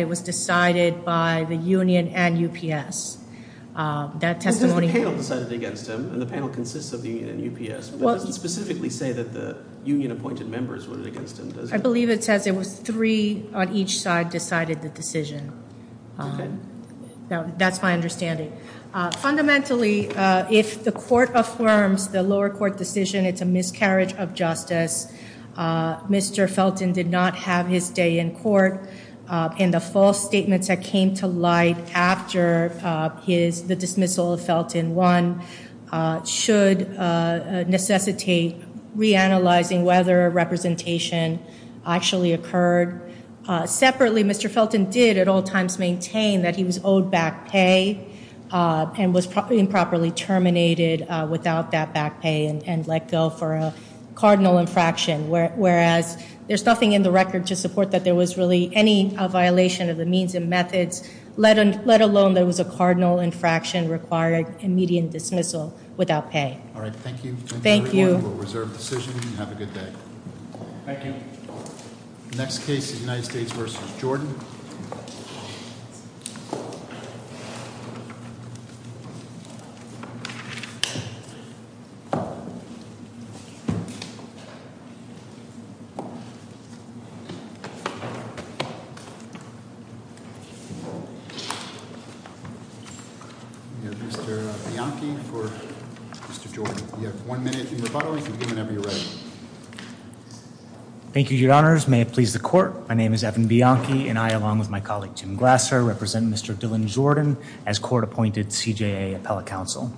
it was decided by the union and UPS that testimony against him and the panel consists of the UPS well specifically say that the union appointed members were against him I believe it says it was three on each side decided the decision that's my understanding fundamentally if the court affirms the lower court decision it's a miscarriage of justice mr. Felton did not have his day in court and the false statements that came to light after his the dismissal of Felton one should necessitate reanalyzing whether representation actually occurred separately mr. Felton did at all times maintain that he was owed back pay and was probably improperly terminated without that back pay and let go for a cardinal infraction whereas there's nothing in the record to support that there was really any violation of the means and methods let and let alone there was a cardinal infraction required immediate dismissal without pay all right thank you thank you thank you next case United States versus Jordan thank you your honors may it please the court my name is Evan Bianchi and I along with my colleague Jim Glasser represent mr. Dylan Jordan as court appointed CJA appellate counsel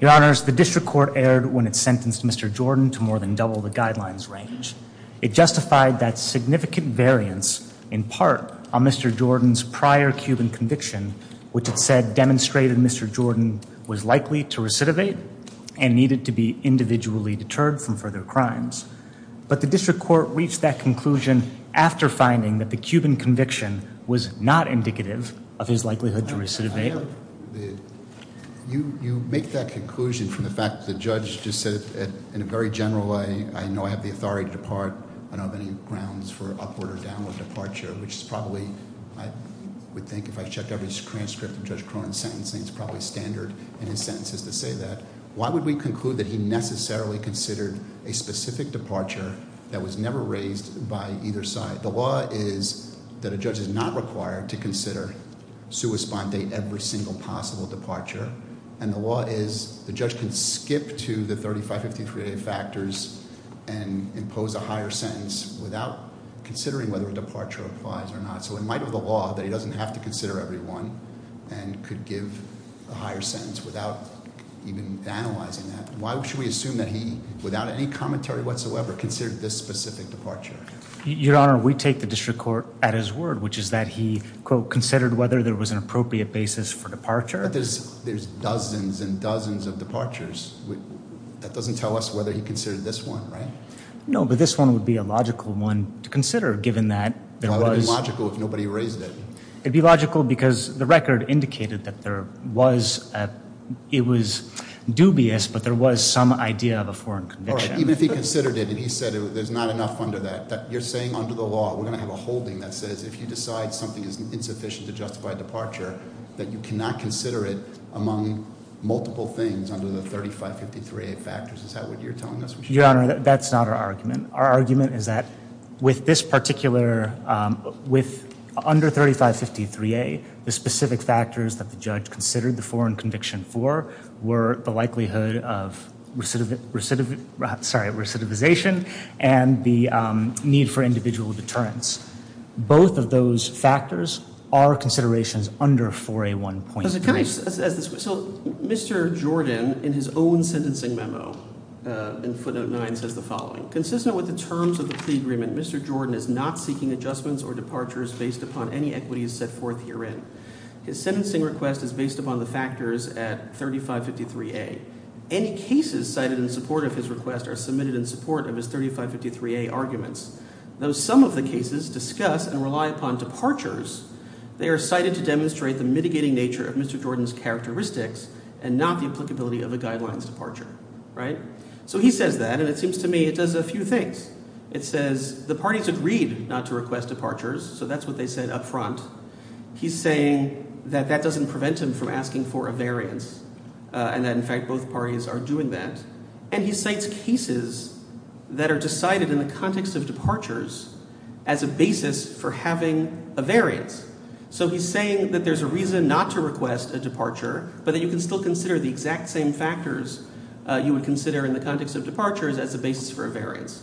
your honors the district court aired when it sentenced mr. Jordan to more than double the guidelines range it justified that significant variance in part on mr. Jordan's prior Cuban conviction which had said demonstrated mr. Jordan was likely to recidivate and needed to be individually deterred from further crimes but the district court reached that conclusion after finding that the Cuban conviction was not indicative of his likelihood to recidivate you you make that conclusion from the fact the judge just said in a very general way I know I have the authority to depart I departure which is probably I would think if I checked out his transcript of judge Cronin sentencing it's probably standard in his sentences to say that why would we conclude that he necessarily considered a specific departure that was never raised by either side the law is that a judge is not required to consider sui spondae every single possible departure and the law is the judge can skip to the 35 53 day factors and impose a higher sentence without considering whether a departure applies or not so in light of the law that he doesn't have to consider every one and could give a higher sentence without even analyzing that why should we assume that he without any commentary whatsoever considered this specific departure your honor we take the district court at his word which is that he quote considered whether there was an appropriate basis for departure there's there's dozens and dozens of departures that doesn't tell us whether he considered this one right no but this one would be a logical one to consider given that there was logical if nobody raised it it'd be logical because the record indicated that there was a it was dubious but there was some idea of a foreign conviction even if he considered it and he said there's not enough under that you're saying under the law we're going to have a holding that says if you decide something is insufficient to justify departure that you cannot consider it among multiple things under the 35 53 factors is that what you're telling us your honor that's not our argument our argument is that with this particular with under 35 53 a the specific factors that the judge considered the foreign conviction for were the likelihood of recidivism sorry recidivization and the need for individual deterrence both of those factors are considerations under for a one point so mr. Jordan in his own sentencing memo in footnote 9 says the system with the terms of the plea agreement mr. Jordan is not seeking adjustments or departures based upon any equities set forth herein his sentencing request is based upon the factors at 35 53 a any cases cited in support of his request are submitted in support of his 35 53 a arguments though some of the cases discuss and rely upon departures they are cited to demonstrate the mitigating nature of mr. Jordan's characteristics and not the applicability of a guidelines departure right so he says that and it seems to me it does a few things it says the parties would read not to request departures so that's what they said up front he's saying that that doesn't prevent him from asking for a variance and that in fact both parties are doing that and he cites cases that are decided in the context of departures as a basis for having a variance so he's saying that there's a reason not to request a departure but that you can still consider the exact same factors you would consider in the context of departures as a basis for a variance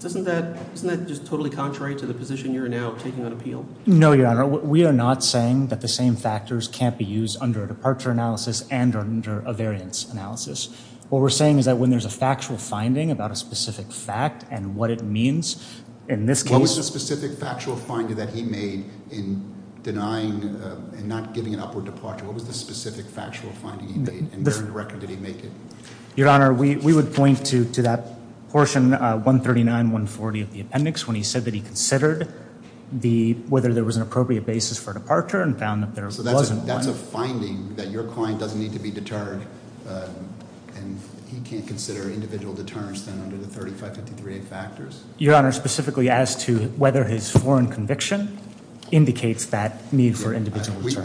doesn't that isn't that just totally contrary to the position you're now taking on appeal no your honor we are not saying that the same factors can't be used under a departure analysis and under a variance analysis what we're saying is that when there's a factual finding about a specific fact and what it means in this case a specific factual finding that he made in denying and not giving an upward departure what was the specific factual finding the record did your honor we would point to to that portion 139 140 of the appendix when he said that he considered the whether there was an appropriate basis for departure and found that there wasn't that's a finding that your client doesn't need to be deterred and he can't consider individual deterrence than under the 3553 a factors your honor specifically as to whether his foreign conviction indicates that need for individual we said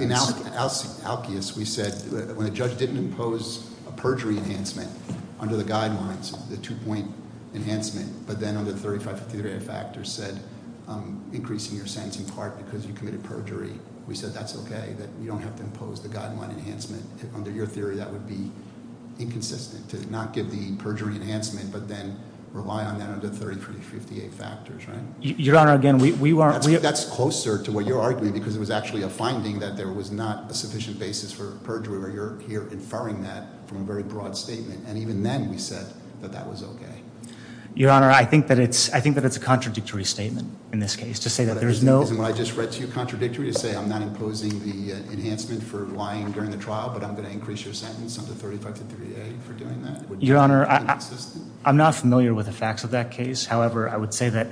when a judge didn't impose a perjury enhancement under the guidelines the two-point enhancement but then on the 3553 a factor said increasing your sense in part because you committed perjury we said that's okay that you don't have to impose the guideline enhancement under your theory that would be inconsistent to not give the perjury enhancement but then rely on that under 30 for the 58 factors right your honor again we weren't we that's closer to what you're arguing because it was actually a finding that there was not a sufficient basis for perjury where here inferring that from a very broad statement and even then we said that that was okay your honor I think that it's I think that it's a contradictory statement in this case to say that there's no I just read to you contradictory to say I'm not imposing the enhancement for lying during the trial but I'm going to increase your sentence under 35 to 38 for doing that your honor I'm not familiar with the facts of that case however I would say that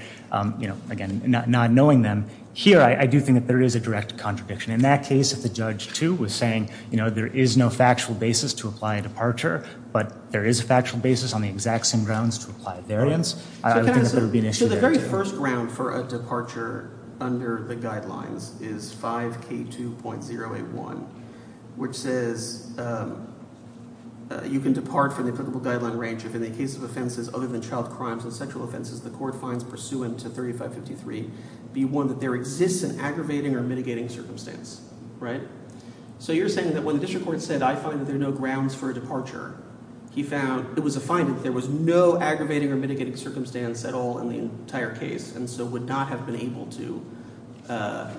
you know again not knowing them here I do think that there is a direct contradiction in that case if the judge to was saying you know there is no factual basis to apply a departure but there is a factual basis on the exact same grounds to apply variance I would be an issue the very first ground for a departure under the guidelines is 5k 2.0 a 1 which says you can depart from the applicable guideline range if in the case of offenses other than child crimes and sexual offenses the court finds pursuant to 3553 be one that there exists an aggravating or mitigating circumstance right so you're saying that when the district court said I find that there are no grounds for a departure he found it was a find that there was no aggravating or mitigating circumstance at all in the entire case and so would not have been able to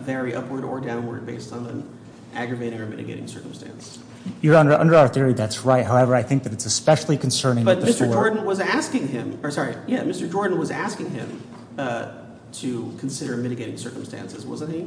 very upward or downward based on an aggravating or mitigating circumstance you're under under our theory that's right however I think that it's especially concerning but mr. Jordan was asking him or sorry yeah mr. Jordan was asking him to consider mitigating circumstances wasn't he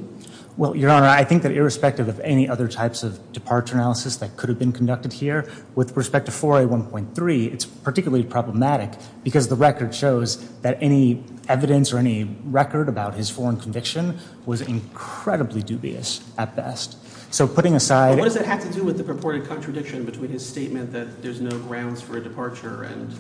well your honor I think that irrespective of any other types of departure analysis that could have been conducted here with respect to 4a 1.3 it's particularly problematic because the record shows that any evidence or any record about his foreign conviction was incredibly dubious at best so putting aside what does it have to do with the purported contradiction between his statement that there's no grounds for a departure and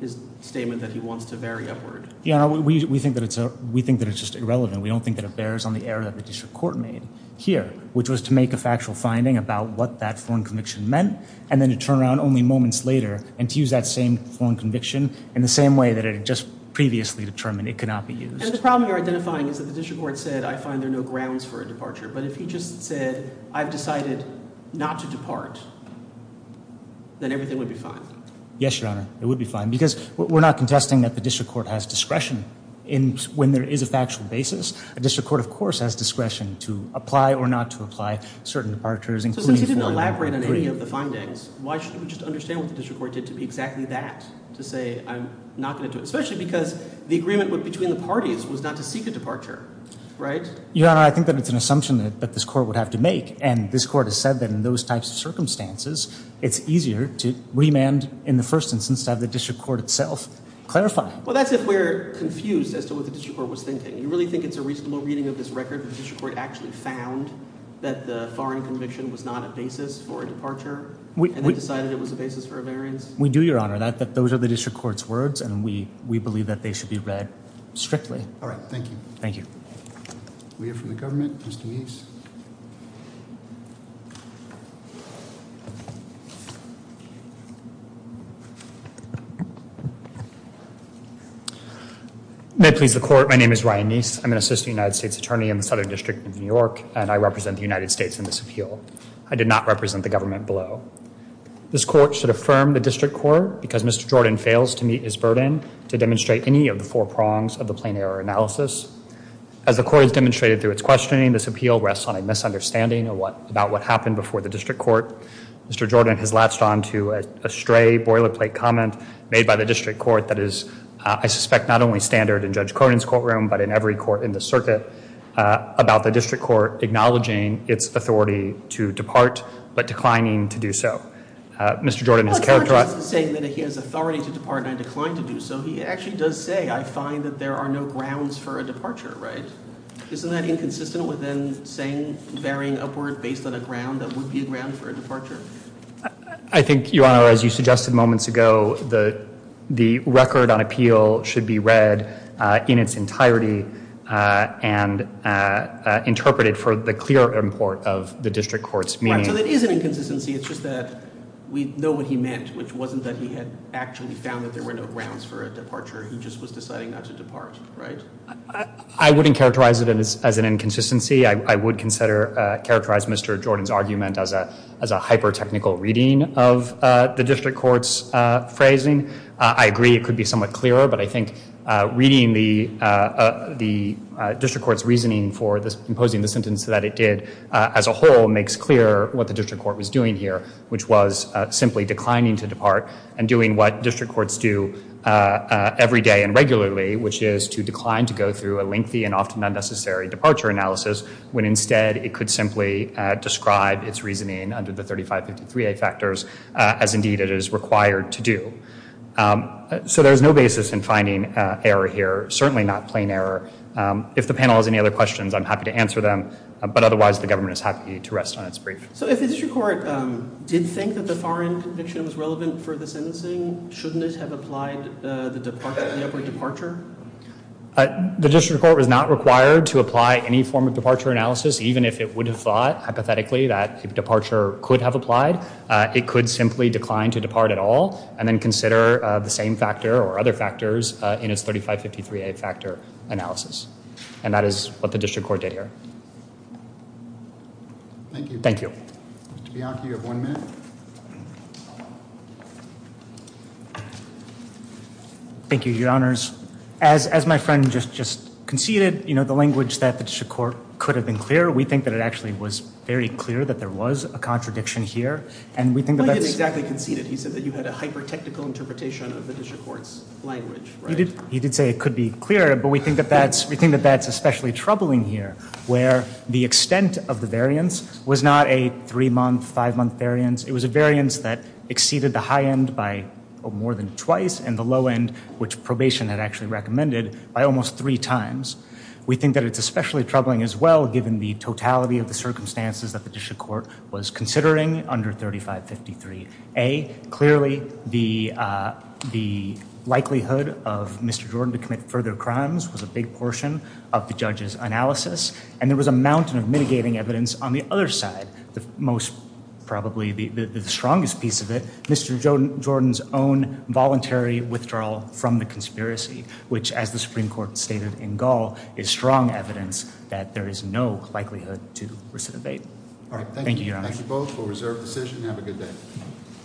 his statement that he wants to vary upward yeah we think that it's a we think that it's just irrelevant we don't think that bears on the error that the district court made here which was to make a factual finding about what that foreign conviction meant and then to turn around only moments later and to use that same foreign conviction in the same way that it just previously determined it could not be used the problem you're identifying is that the district court said I find there no grounds for a departure but if he just said I've decided not to depart then everything would be fine yes your honor it would be fine because we're not contesting that the district court has discretion in when there is a factual basis a district court of course has discretion to apply or not to apply certain departures including elaborate on any of the findings why should we just understand what the district court did to be exactly that to say I'm not going to do it especially because the agreement would between the parties was not to seek a departure right yeah I think that it's an assumption that but this court would have to make and this court has said that in those types of circumstances it's easier to remand in the first instance to have the district court itself clarify well that's if we're confused as to what the district was thinking you really think it's a reasonable reading of this record the district court actually found that the foreign conviction was not a basis for a departure we decided it was a basis for a variance we do your honor that that those are the district courts words and we we believe that they should be read strictly all right thank you thank you we have from the government mr. nice may please the court my name is Ryan nice I'm an assistant United States attorney in the Southern District of New York and I represent the United States in this appeal I did not represent the government below this court should affirm the district court because mr. Jordan fails to meet his burden to demonstrate any of the four prongs of the plain error analysis as the court has demonstrated through its questioning this appeal rests on a misunderstanding of what about what happened before the district court mr. Jordan has latched on to a stray boilerplate comment made by the district court that is I suspect not only standard in Judge Cornyn's courtroom but in every court in the circuit about the district court acknowledging its authority to depart but declining to do so mr. Jordan is characterized saying that he has authority to depart I declined to do so he actually does say I find that there are no grounds for a departure right isn't that inconsistent with then saying varying upward based on a ground that would be a ground for a departure I think your honor as you suggested moments ago the the record on appeal should be read in its entirety and interpreted for the clear import of the district courts means it is an inconsistency it's just that we know what he meant which wasn't that he had actually found that there were no just was deciding not to depart right I wouldn't characterize it as an inconsistency I would consider characterized mr. Jordan's argument as a as a hyper technical reading of the district courts phrasing I agree it could be somewhat clearer but I think reading the the district courts reasoning for this imposing the sentence that it did as a whole makes clear what the district court was doing here which was simply declining to depart and doing what district courts do every day and regularly which is to decline to go through a lengthy and often unnecessary departure analysis when instead it could simply describe its reasoning under the 3553 a factors as indeed it is required to do so there's no basis in finding error here certainly not plain error if the panel has any other questions I'm happy to answer them but otherwise the government is happy to rest on its brief so if it's your court did think that the shouldn't have applied the departure the district court was not required to apply any form of departure analysis even if it would have thought hypothetically that departure could have applied it could simply decline to depart at all and then consider the same factor or other factors in its 3553 a factor analysis and that is what the district court did here thank you thank you your honors as as my friend just just conceded you know the language that the district court could have been clear we think that it actually was very clear that there was a contradiction here and we think exactly conceded he said that you had a hyper technical interpretation of the district courts language he did say it could be clear but we think that that's we think that that's especially troubling here where the extent of the variance was not a three month five month variance it was a variance that exceeded the high end by more than twice and the low end which probation had actually recommended by almost three times we think that it's especially troubling as well given the totality of the circumstances that the district court was considering under 3553 a clearly the the likelihood of mr. Jordan to commit further crimes was a big portion of the judges analysis and there was a mountain of mitigating evidence on the other side the most probably the strongest piece of it mr. Jordan Jordan's own voluntary withdrawal from the conspiracy which as the Supreme Court stated in Gaul is strong evidence that there is no likelihood to recidivate all right thank you both for reserve decision have a good day